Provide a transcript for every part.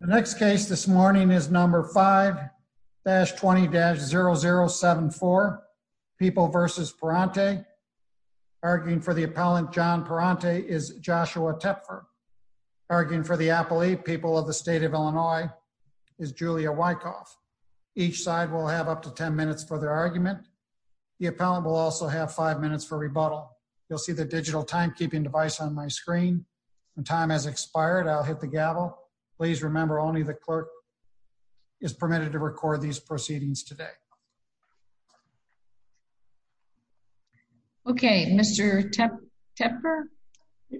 The next case this morning is number 5-20-0074, People v. Prante. Arguing for the appellant John Prante is Joshua Tepfer. Arguing for the appellate, People of the State of Illinois, is Julia Wykoff. Each side will have up to ten minutes for their argument. The appellant will also have five minutes for rebuttal. You'll see the digital timekeeping device on my screen. When time has expired, I'll hit the gavel. Please remember only the clerk is permitted to record these proceedings today. Okay, Mr. Tepfer,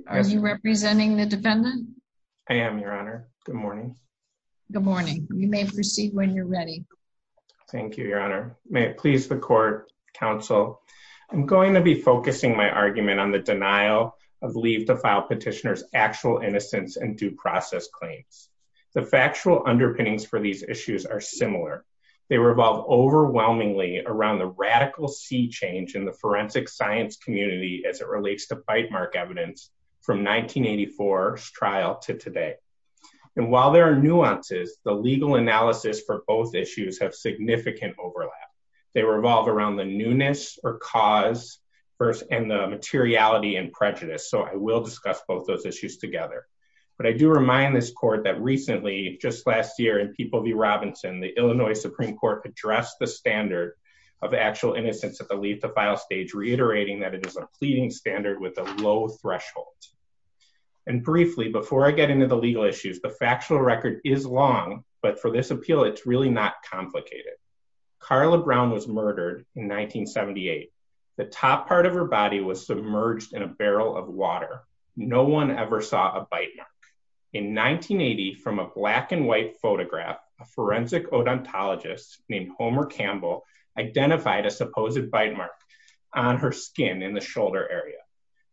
are you representing the defendant? I am, Your Honor. Good morning. Good morning. You may proceed when you're ready. Thank you, Your Honor. May it please the court, counsel, I'm going to be focusing my argument on the denial of leave to file petitioners' actual innocence and due process claims. The factual underpinnings for these issues are similar. They revolve overwhelmingly around the radical sea change in the forensic science community as it relates to bite mark evidence from 1984's trial to today. While there are nuances, the legal analysis for materiality and prejudice, so I will discuss both those issues together. But I do remind this court that recently, just last year, in People v. Robinson, the Illinois Supreme Court addressed the standard of actual innocence at the leave to file stage, reiterating that it is a pleading standard with a low threshold. And briefly, before I get into the legal issues, the factual record is long, but for this appeal, it's really not complicated. Carla Brown was submerged in a barrel of water. No one ever saw a bite mark. In 1980, from a black and white photograph, a forensic odontologist named Homer Campbell identified a supposed bite mark on her skin in the shoulder area.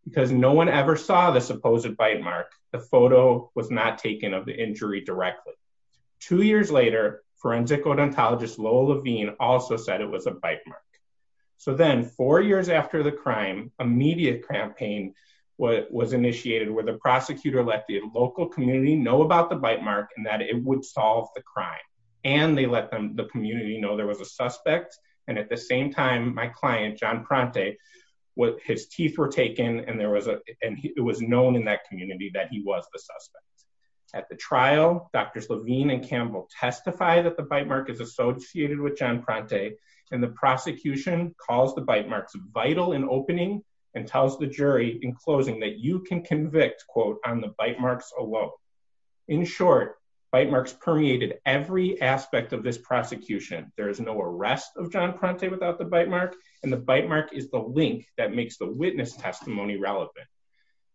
Because no one ever saw the supposed bite mark, the photo was not taken of the injury directly. Two years later, forensic odontologist Lowell Levine also said it was a media campaign that was initiated where the prosecutor let the local community know about the bite mark and that it would solve the crime. And they let the community know there was a suspect, and at the same time, my client, John Pronte, his teeth were taken, and it was known in that community that he was the suspect. At the trial, Drs. Levine and Campbell testify that the bite mark is associated with John Pronte, and the prosecution calls the bite marks vital in opening and tells the jury in closing that you can convict, quote, on the bite marks alone. In short, bite marks permeated every aspect of this prosecution. There is no arrest of John Pronte without the bite mark, and the bite mark is the link that makes the witness testimony relevant.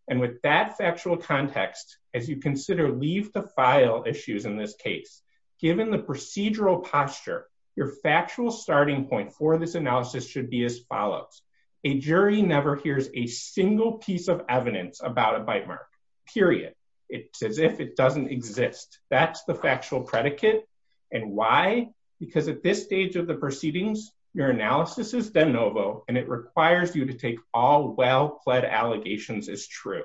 And with that factual context, as you consider leave the file issues in this case, given the procedural posture, your factual starting point for this analysis should be as follows. A jury never hears a single piece of evidence about a bite mark, period. It's as if it doesn't exist. That's the factual predicate. And why? Because at this stage of the proceedings, your analysis is de novo, and it requires you to take all well-pled allegations as true.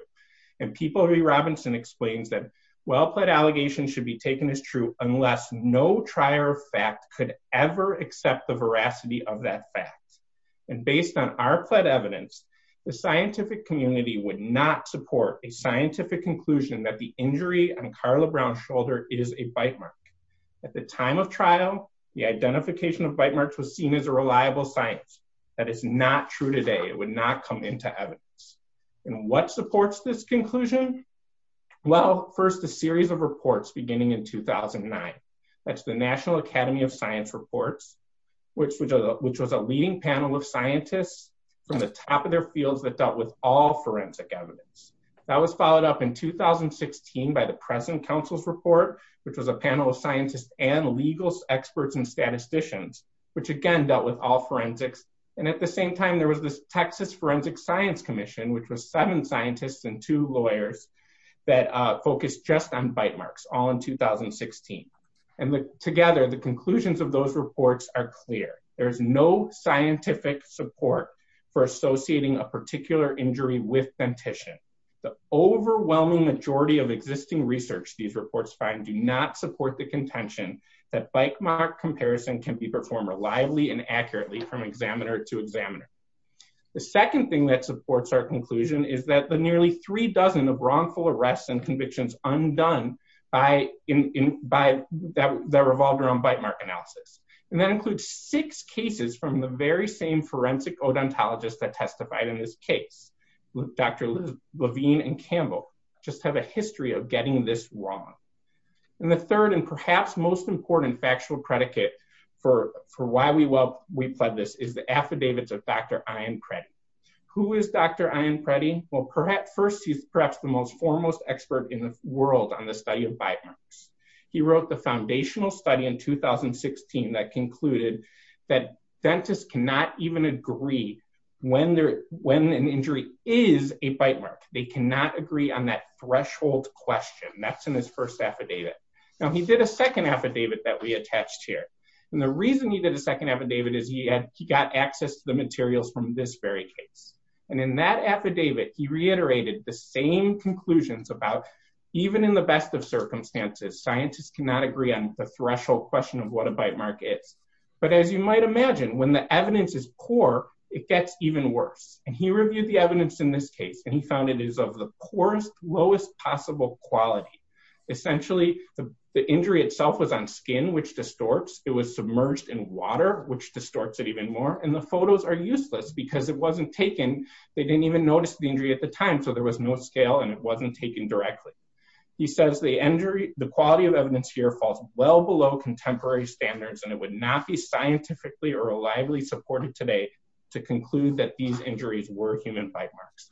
And Peabody Robinson explains that well-pled allegations should be taken as true unless no trier of fact could ever accept the evidence. The scientific community would not support a scientific conclusion that the injury on Carla Brown's shoulder is a bite mark. At the time of trial, the identification of bite marks was seen as a reliable science. That is not true today. It would not come into evidence. And what supports this conclusion? Well, first, a series of reports beginning in 2009. That's the National Academy of Science reports, which was a leading panel of scientists from the top of their fields that dealt with all forensic evidence. That was followed up in 2016 by the present counsel's report, which was a panel of scientists and legal experts and statisticians, which again dealt with all forensics. And at the same time, there was this Texas Forensic Science Commission, which was seven scientists and two lawyers that focused just on bite marks, all in 2016. And together, the conclusions of those reports are clear. There's no scientific support for associating a particular injury with dentition. The overwhelming majority of existing research these reports find do not support the contention that bite mark comparison can be performed reliably and accurately from examiner to examiner. The second thing that supports our conclusion is that the nearly three dozen of wrongful arrests and convictions undone by that revolved around bite mark analysis. And that includes six cases from the very same forensic odontologist that testified in this case. Dr. Levine and Campbell just have a history of getting this wrong. And the third and perhaps most important factual predicate for why we pled this is the affidavits of Dr. Ian Preddy. Who is Dr. Ian in the world on the study of bite marks. He wrote the foundational study in 2016 that concluded that dentists cannot even agree when an injury is a bite mark. They cannot agree on that threshold question. That's in his first affidavit. Now he did a second affidavit that we attached here. And the reason he did a second affidavit is he got access to the materials from this very case. And in that affidavit he reiterated the same conclusions about even in the best of circumstances scientists cannot agree on the threshold question of what a bite mark is. But as you might imagine when the evidence is poor it gets even worse. And he reviewed the evidence in this case and he found it is of the poorest lowest possible quality. Essentially the injury itself was on skin which distorts. It was submerged in water which distorts it even more. And the photos are useless because it wasn't taken. They didn't even notice the injury at the time. So there was no scale and it wasn't taken directly. He says the injury the quality of evidence here falls well below contemporary standards and it would not be scientifically or reliably supported today to conclude that these injuries were human bite marks.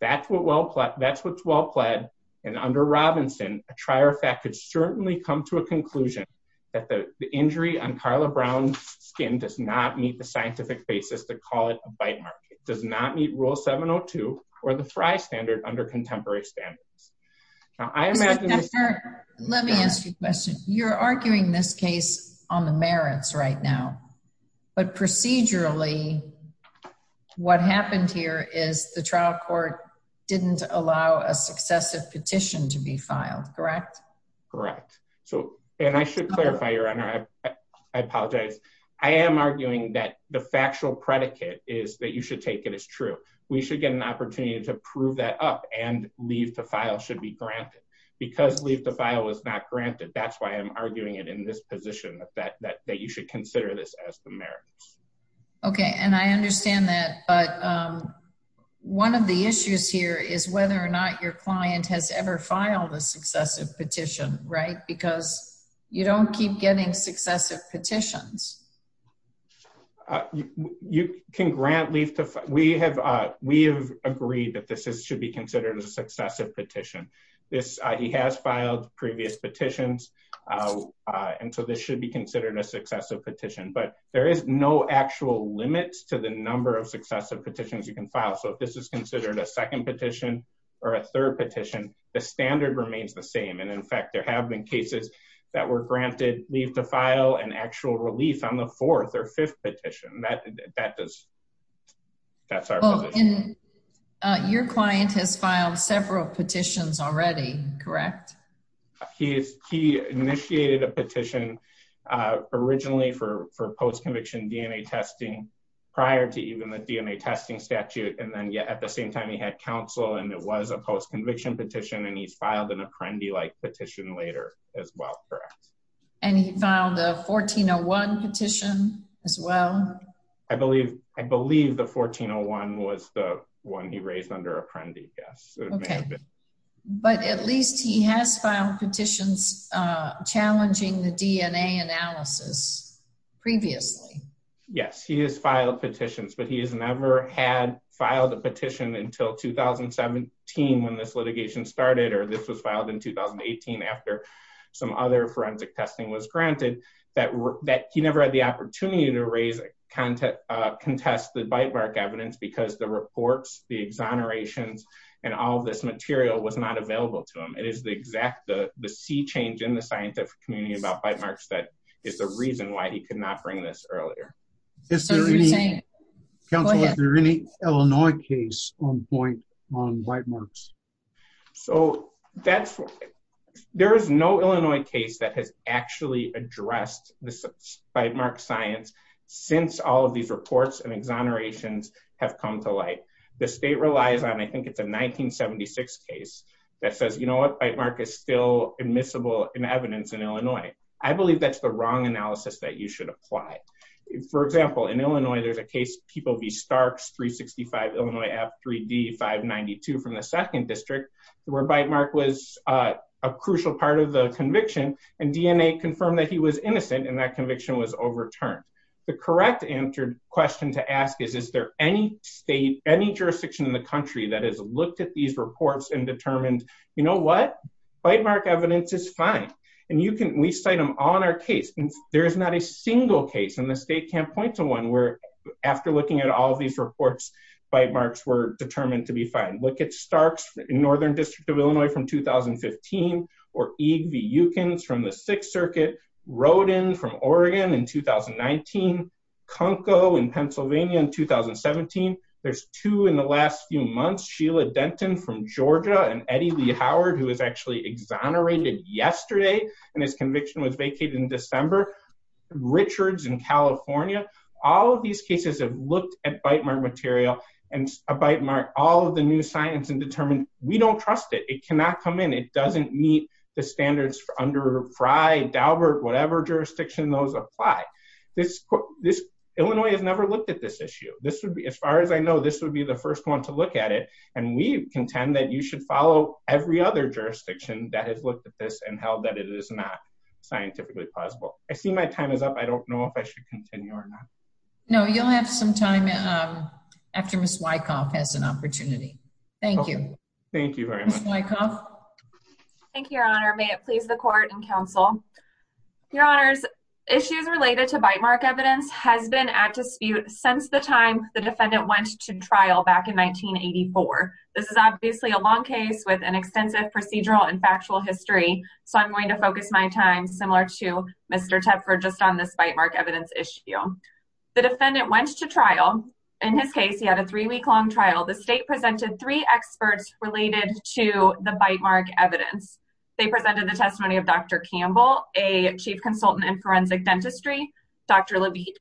That's what well that's what's well pled and under Robinson a trier fact could certainly come to a conclusion that the injury on Carla Brown's skin does not meet the scientific basis to call it a bite mark. It does not meet rule 702 or the Frye standard under contemporary standards. Now I imagine. Let me ask you a question. You're arguing this case on the merits right now but procedurally what happened here is the trial court didn't allow a successive petition to be filed correct? Correct. So and I should clarify your I apologize. I am arguing that the factual predicate is that you should take it as true. We should get an opportunity to prove that up and leave the file should be granted because leave the file was not granted. That's why I'm arguing it in this position that that that you should consider this as the merits. Okay and I understand that but one of the issues here is whether or not your successive petitions. You can grant leave to we have we have agreed that this is should be considered a successive petition. This he has filed previous petitions and so this should be considered a successive petition but there is no actual limit to the number of successive petitions you can file. So if this is considered a second petition or a third petition the standard remains the same and in fact there have been cases that were granted leave to file an actual relief on the fourth or fifth petition that that does that's our position. Your client has filed several petitions already correct? He initiated a petition originally for for post-conviction DNA testing prior to even the DNA testing statute and then yet at the same time he had counsel and it filed an apprendee-like petition later as well correct? And he filed a 1401 petition as well? I believe I believe the 1401 was the one he raised under apprendee yes. Okay but at least he has filed petitions uh challenging the DNA analysis previously. Yes he has filed petitions but he has never had filed a petition until 2017 when this litigation started or this was filed in 2018 after some other forensic testing was granted that that he never had the opportunity to raise a contest uh contest the bite mark evidence because the reports the exonerations and all this material was not available to him. It is the exact the the sea change in the scientific community about bite marks that is the reason why he could not bring this earlier. Is there any counsel is there any Illinois case on point on bite marks? So that's there is no Illinois case that has actually addressed this bite mark science since all of these reports and exonerations have come to light. The state relies on I think it's a 1976 case that says you know what bite in evidence in Illinois. I believe that's the wrong analysis that you should apply. For example in Illinois there's a case people v Starks 365 Illinois app 3d 592 from the second district where bite mark was a crucial part of the conviction and DNA confirmed that he was innocent and that conviction was overturned. The correct answered question to ask is is there any state any jurisdiction in the country that has looked at these reports and determined you know what bite mark evidence is fine and you can we cite them on our case and there is not a single case and the state can't point to one where after looking at all these reports bite marks were determined to be fine. Look at Starks in northern district of Illinois from 2015 or EGV Eukins from the sixth circuit. Roden from Oregon in 2019. Conco in Pennsylvania in 2017. There's two in last few months. Sheila Denton from Georgia and Eddie Lee Howard who was actually exonerated yesterday and his conviction was vacated in December. Richards in California. All of these cases have looked at bite mark material and a bite mark all of the new science and determined we don't trust it. It cannot come in. It doesn't meet the standards for under Fry, Daubert whatever jurisdiction those apply. This Illinois has never looked at this issue. This would be the first one to look at it and we contend that you should follow every other jurisdiction that has looked at this and held that it is not scientifically plausible. I see my time is up. I don't know if I should continue or not. No you'll have some time after Miss Wyckoff has an opportunity. Thank you. Thank you very much. Thank you your honor. May it please the court and counsel. Your honors issues related to bite mark evidence has been at dispute since the time the back in 1984. This is obviously a long case with an extensive procedural and factual history. So I'm going to focus my time similar to Mr. Tepper just on this bite mark evidence issue. The defendant went to trial in his case. He had a three week long trial. The state presented three experts related to the bite mark evidence. They presented the testimony of Dr. Campbell, a chief consultant in forensic dentistry. Dr. Levine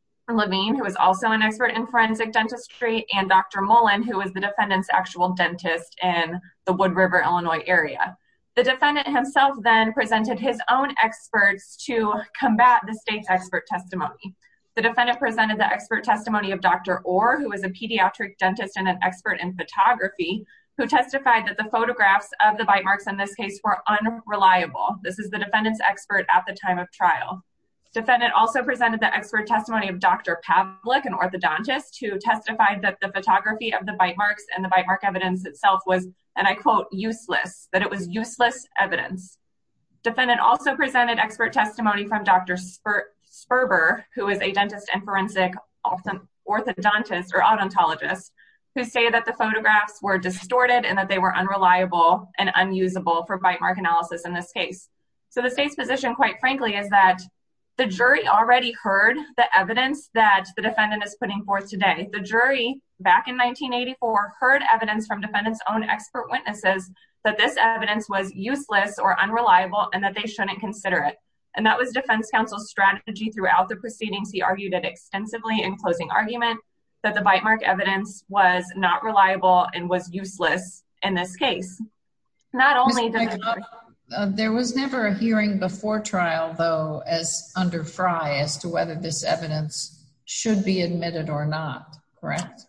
who is also an expert in forensic dentistry and Dr. Mullen who is the defendant's actual dentist in the Wood River, Illinois area. The defendant himself then presented his own experts to combat the state's expert testimony. The defendant presented the expert testimony of Dr. Orr who is a pediatric dentist and an expert in photography who testified that the photographs of the bite marks in this case were unreliable. This is the defendant's expert at the time of trial. Defendant also presented the expert testimony of Dr. Pavlik, an orthodontist who testified that the photography of the bite marks and the bite mark evidence itself was, and I quote, useless, that it was useless evidence. Defendant also presented expert testimony from Dr. Sperber who is a dentist and forensic orthodontist or odontologist who stated that the photographs were distorted and that they were unreliable and unusable for bite mark analysis in this case. So the state's position quite frankly is that the jury already heard the evidence that the defendant is putting forth today. The jury back in 1984 heard evidence from defendant's own expert witnesses that this evidence was useless or unreliable and that they shouldn't consider it. And that was defense counsel's strategy throughout the proceedings. He argued it extensively in closing argument that the bite mark evidence was not reliable and was useless in this case. Not only... There was never a hearing before trial though as under Frye as to whether this evidence should be admitted or not, correct?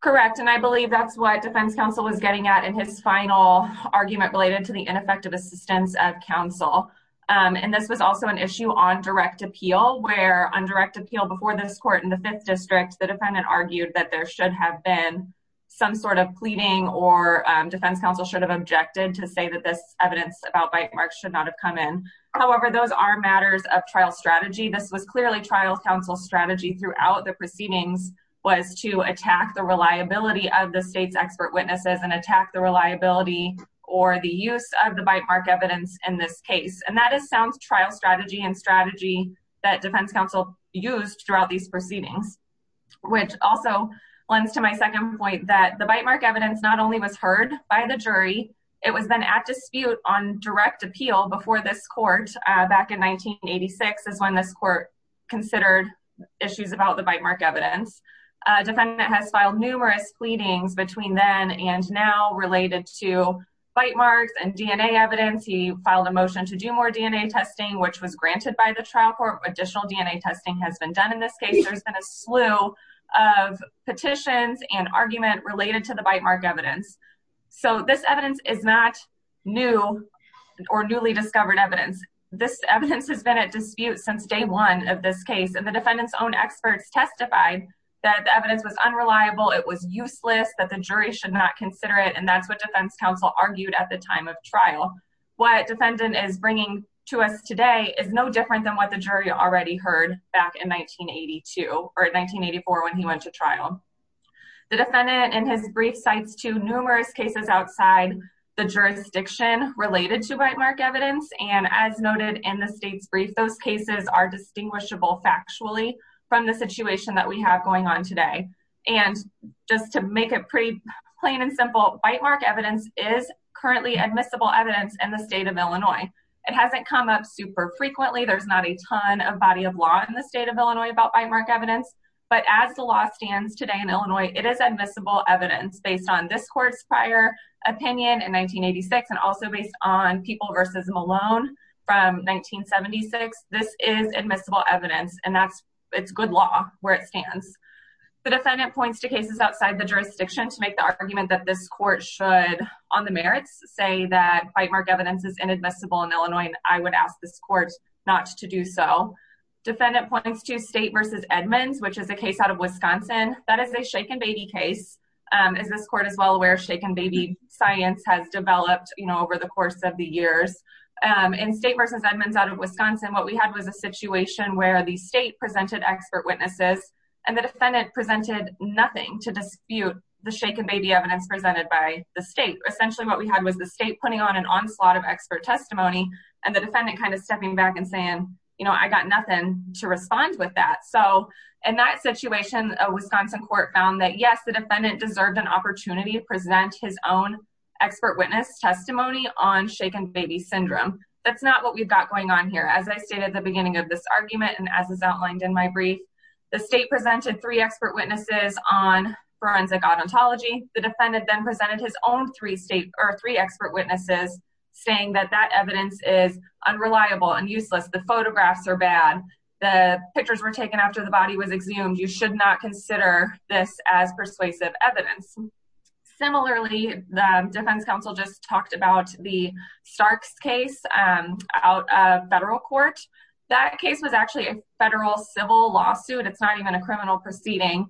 Correct. And I believe that's what defense counsel was getting at in his final argument related to the ineffective assistance of counsel. And this was also an issue on direct appeal where on direct appeal before this court in the fifth district, the defendant argued that there should have been some sort of pleading or defense counsel should have objected to say that this evidence about bite marks should not have come in. However, those are matters of trial strategy. This was clearly trial counsel's strategy throughout the proceedings was to attack the reliability of the state's expert witnesses and attack the reliability or the use of the bite mark evidence in this case. And that is sound trial strategy and strategy that defense counsel used throughout these proceedings, which also lends to my second point that the bite mark evidence not only was heard by the jury, it was then at dispute on direct appeal before this court back in 1986 is when this court considered issues about the bite mark evidence. Defendant has filed numerous pleadings between then and now related to bite marks and DNA evidence. He filed a motion to do more DNA testing, which was granted by the trial court. Additional DNA testing has been done in this case. There's been a slew of petitions and argument related to the bite mark evidence. So this evidence is not new or newly discovered evidence. This evidence has been at dispute since day one of this case, and the defendant's own experts testified that the evidence was unreliable, it was useless, that the jury should not consider it. And that's what defense counsel argued at the time of trial. What defendant is bringing to us today is no different than what the jury already heard back in 1982 or 1984 when he went to trial. The defendant in his brief cites to numerous cases outside the jurisdiction related to bite mark evidence. And as noted in the state's brief, those cases are distinguishable factually from the situation that we have going on today. And just to make it pretty plain and simple, bite mark evidence is currently admissible evidence in Illinois. It hasn't come up super frequently. There's not a ton of body of law in the state of Illinois about bite mark evidence. But as the law stands today in Illinois, it is admissible evidence based on this court's prior opinion in 1986. And also based on people versus Malone from 1976. This is admissible evidence. And that's it's good law where it stands. The defendant points to cases outside the jurisdiction to make the argument that this court should on the merits say that bite mark evidence is inadmissible in Illinois, I would ask this court not to do so. Defendant points to state versus Edmonds, which is a case out of Wisconsin, that is a shaken baby case. As this court is well aware, shaken baby science has developed, you know, over the course of the years. And state versus Edmonds out of Wisconsin, what we had was a situation where the state presented expert witnesses, and the defendant presented nothing to dispute the shaken baby evidence presented by the state. Essentially, what we had was the state putting on an onslaught of expert testimony, and the defendant kind of stepping back and saying, you know, I got nothing to respond with that. So in that situation, a Wisconsin court found that yes, the defendant deserved an opportunity to present his own expert witness testimony on shaken baby syndrome. That's not what we've got going on here. As I stated at the beginning of this argument, and as is outlined in my brief, the state presented three expert witnesses on forensic odontology, the defendant then presented his own three state or three expert witnesses, saying that that evidence is unreliable and useless. The photographs are bad. The pictures were taken after the body was exhumed. You should not consider this as persuasive evidence. Similarly, the defense counsel just talked about the Starks case out of federal court. That case was actually a federal civil lawsuit. It's not even a criminal proceeding.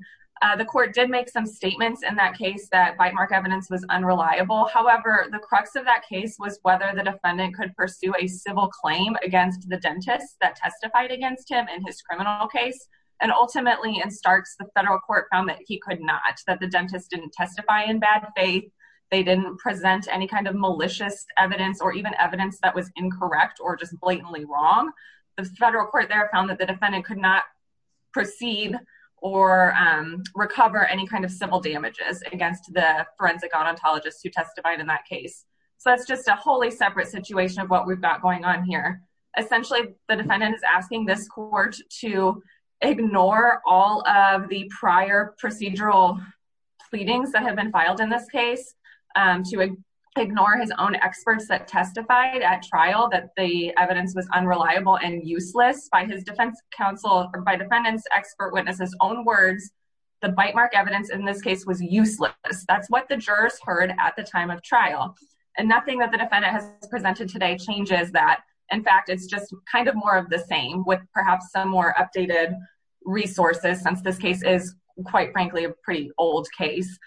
The court did make some statements in that case that bite mark evidence was unreliable. However, the crux of that case was whether the defendant could pursue a civil claim against the dentist that testified against him in his criminal case. And ultimately, in Starks, the federal court found that he could not that the dentist didn't testify in bad faith. They didn't present any kind of malicious evidence or even evidence that was incorrect or just blatantly wrong. The federal court there found that the defendant could not proceed or recover any kind of civil damages against the forensic odontologist who testified in that case. So that's just a wholly separate situation of what we've got going on here. Essentially, the defendant is asking this court to ignore all of the prior procedural pleadings that have been filed in this case, to ignore his own experts that testified at trial that the evidence was unreliable and useless by his defense counsel or by defendants' expert witnesses' own words. The bite mark evidence in this case was useless. That's what the jurors heard at the time of trial. And nothing that the defendant has presented today changes that. In fact, it's just kind of more of the same with perhaps some more updated resources since this case is, quite frankly, a pretty old case.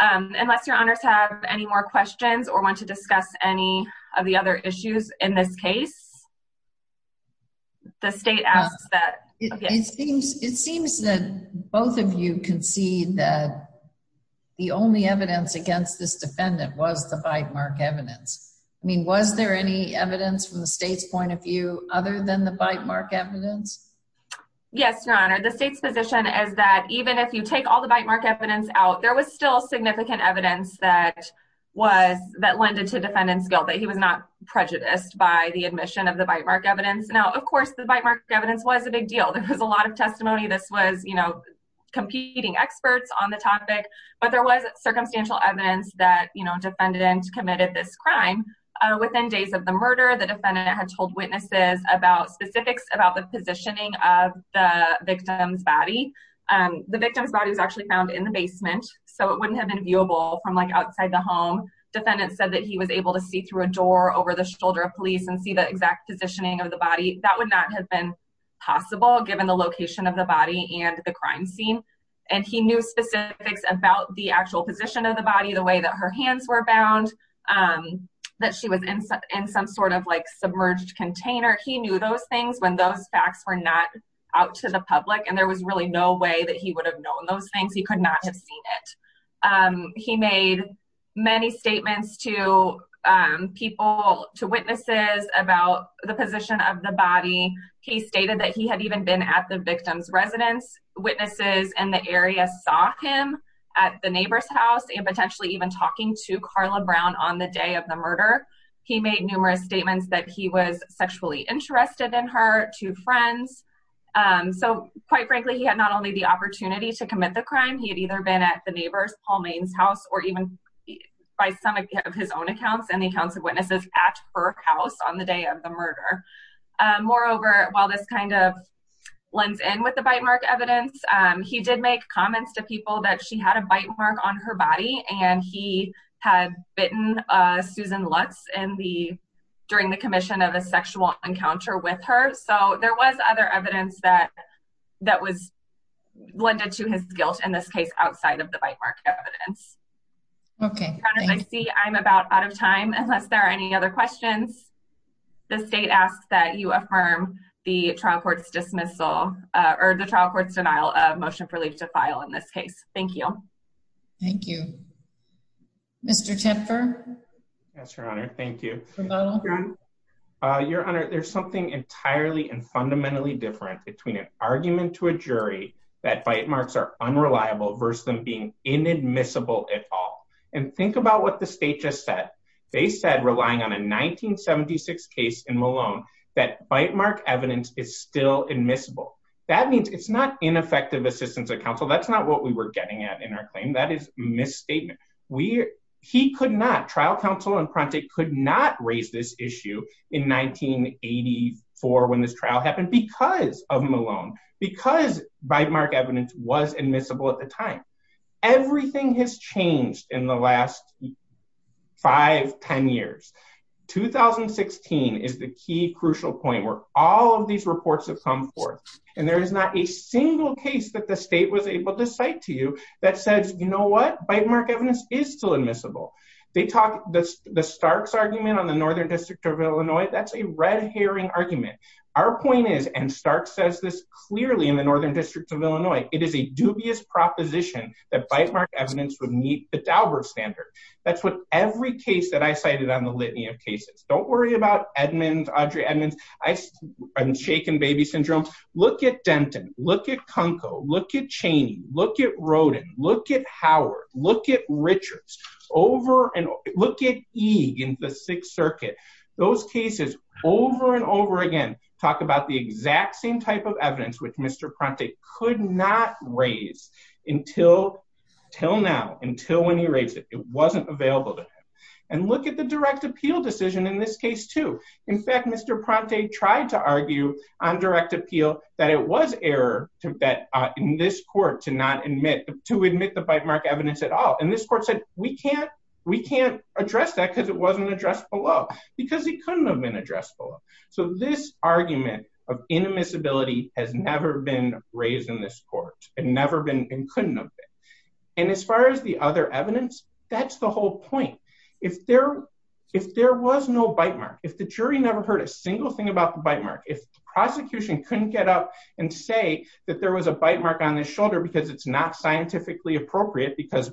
Unless your honors have any more questions or want to discuss any of the other issues in this case, the state asks that... It seems that both of you concede that the only evidence against this defendant was the bite mark evidence. I mean, was there any evidence from the state's point of view other than the bite mark evidence? Yes, your honor. The state's position is that even if you take all the bite mark evidence out, there was still significant evidence that lended to defendant's guilt, that he was not prejudiced by the admission of the bite mark evidence. Now, of course, the bite mark evidence was a big deal. There was a lot of testimony. This was competing experts on the topic, but there was circumstantial evidence that defendant committed this crime. Within days of the murder, the defendant had told witnesses about specifics about the positioning of the victim's body. The victim's body was actually found in the basement, so it wouldn't have been viewable from outside the home. Defendant said that he was able to see through a door over the shoulder of police and see the exact positioning of the body. That would not have been possible given the location of the body and the crime scene, and he knew specifics about the actual position of the body, the way that her hands were bound, that she was in some sort of submerged container. He knew those things when those facts were not out to the public, and there was really no way that he would have known those things. He could not have seen it. He made many statements to people, to witnesses, about the position of the body. He stated that he had been at the victim's residence. Witnesses in the area saw him at the neighbor's house and potentially even talking to Carla Brown on the day of the murder. He made numerous statements that he was sexually interested in her, to friends. So, quite frankly, he had not only the opportunity to commit the crime, he had either been at the neighbor's, Paul Main's house, or even by some of his own accounts and the accounts of witnesses at her house on the day of the murder. Moreover, while this kind of blends in with the bite mark evidence, he did make comments to people that she had a bite mark on her body, and he had bitten Susan Lutz during the commission of a sexual encounter with her. So, there was other evidence that was blended to his guilt, in this case, outside of the bite mark evidence. As I see, I'm about out of time, unless there any other questions. The state asks that you affirm the trial court's dismissal, or the trial court's denial of motion for leave to file in this case. Thank you. Thank you. Mr. Tipper? Yes, Your Honor. Thank you. Your Honor, there's something entirely and fundamentally different between an argument to a jury that bite marks are unreliable versus them inadmissible at all. And think about what the state just said. They said, relying on a 1976 case in Malone, that bite mark evidence is still admissible. That means it's not ineffective assistance of counsel. That's not what we were getting at in our claim. That is a misstatement. He could not, trial counsel and Prontick could not raise this issue in 1984 when this trial because of Malone, because bite mark evidence was admissible at the time. Everything has changed in the last five, 10 years. 2016 is the key crucial point where all of these reports have come forth. And there is not a single case that the state was able to cite to you that says, you know what, bite mark evidence is still admissible. They talk, the Starks argument on the Northern District of Illinois. The point is, and Stark says this clearly in the Northern District of Illinois, it is a dubious proposition that bite mark evidence would meet the Dauber standard. That's what every case that I cited on the litany of cases. Don't worry about Edmonds, Audrey Edmonds. I'm shaking baby syndrome. Look at Denton, look at Kunkel, look at Chaney, look at Roden, look at Howard, look at Richards, over and look at Eag in the Sixth Circuit. Those cases over and over again, talk about the exact same type of evidence which Mr. Prontick could not raise until now, until when he raised it. It wasn't available to him. And look at the direct appeal decision in this case too. In fact, Mr. Prontick tried to argue on direct appeal that it was error to bet in this court to not admit, to admit the bite mark evidence at all. And this court said, we can't, we can't address that because it wasn't addressed below, because it couldn't have been addressed below. So this argument of inadmissibility has never been raised in this court. It never been and couldn't have been. And as far as the other evidence, that's the whole point. If there, if there was no bite mark, if the jury never heard a single thing about the bite mark, if the prosecution couldn't get up and say that there was a bite mark on his shoulder, because it's not scientifically appropriate, because,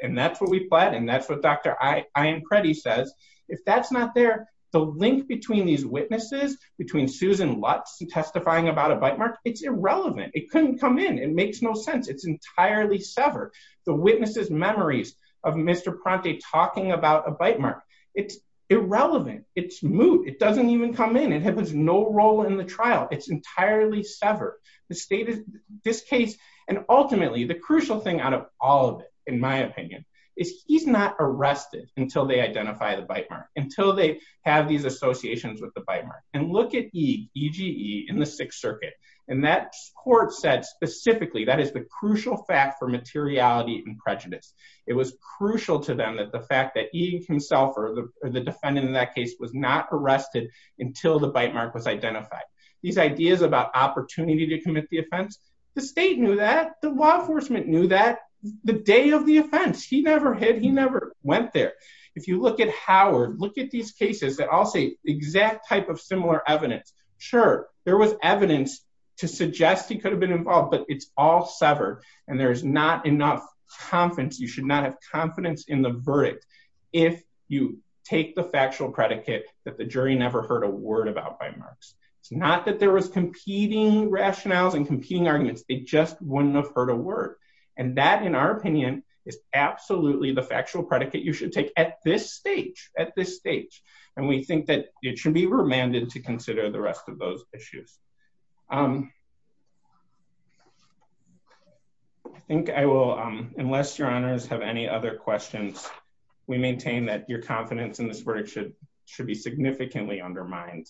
and that's what we fled. And that's what Dr. Ian Preddy says. If that's not there, the link between these witnesses, between Susan Lutz and testifying about a bite mark, it's irrelevant. It couldn't come in. It makes no sense. It's entirely severed. The witnesses' memories of Mr. Prontick talking about a bite mark, it's irrelevant. It's moot. It doesn't even come in. It has no role in the trial. It's entirely severed. The state is, this case, and ultimately the crucial thing out of all of it, in my opinion, is he's not arrested until they identify the bite mark, until they have these associations with the bite mark. And look at E, EGE in the Sixth Circuit. And that court said specifically, that is the crucial fact for materiality and prejudice. It was crucial to them that the fact that E himself or the defendant in that case was not arrested until the bite mark was identified. These ideas about opportunity to commit the offense, the state knew that. The law enforcement knew that. The day of the offense, he never hid. He never went there. If you look at Howard, look at these cases that all say exact type of similar evidence. Sure, there was evidence to suggest he could have been involved, but it's all severed. And there's not enough confidence. You should not have confidence in the verdict if you take the factual predicate that the jury never heard a word about bite marks. It's not that there was competing rationales and competing arguments. They just wouldn't have heard a word. And that, in our opinion, is absolutely the factual predicate you should take at this stage, at this stage. And we think that it should be remanded to consider the rest of those questions. We maintain that your confidence in this verdict should be significantly undermined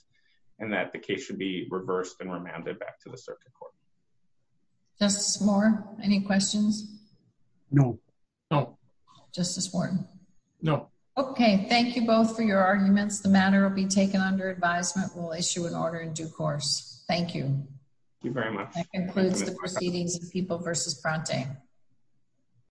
and that the case should be reversed and remanded back to the circuit court. Justice Moore, any questions? No. No. Justice Wharton? No. Okay, thank you both for your arguments. The matter will be taken under advisement. We'll issue an order in due course. Thank you. Thank you very much. That concludes the proceedings of People v. Pronte.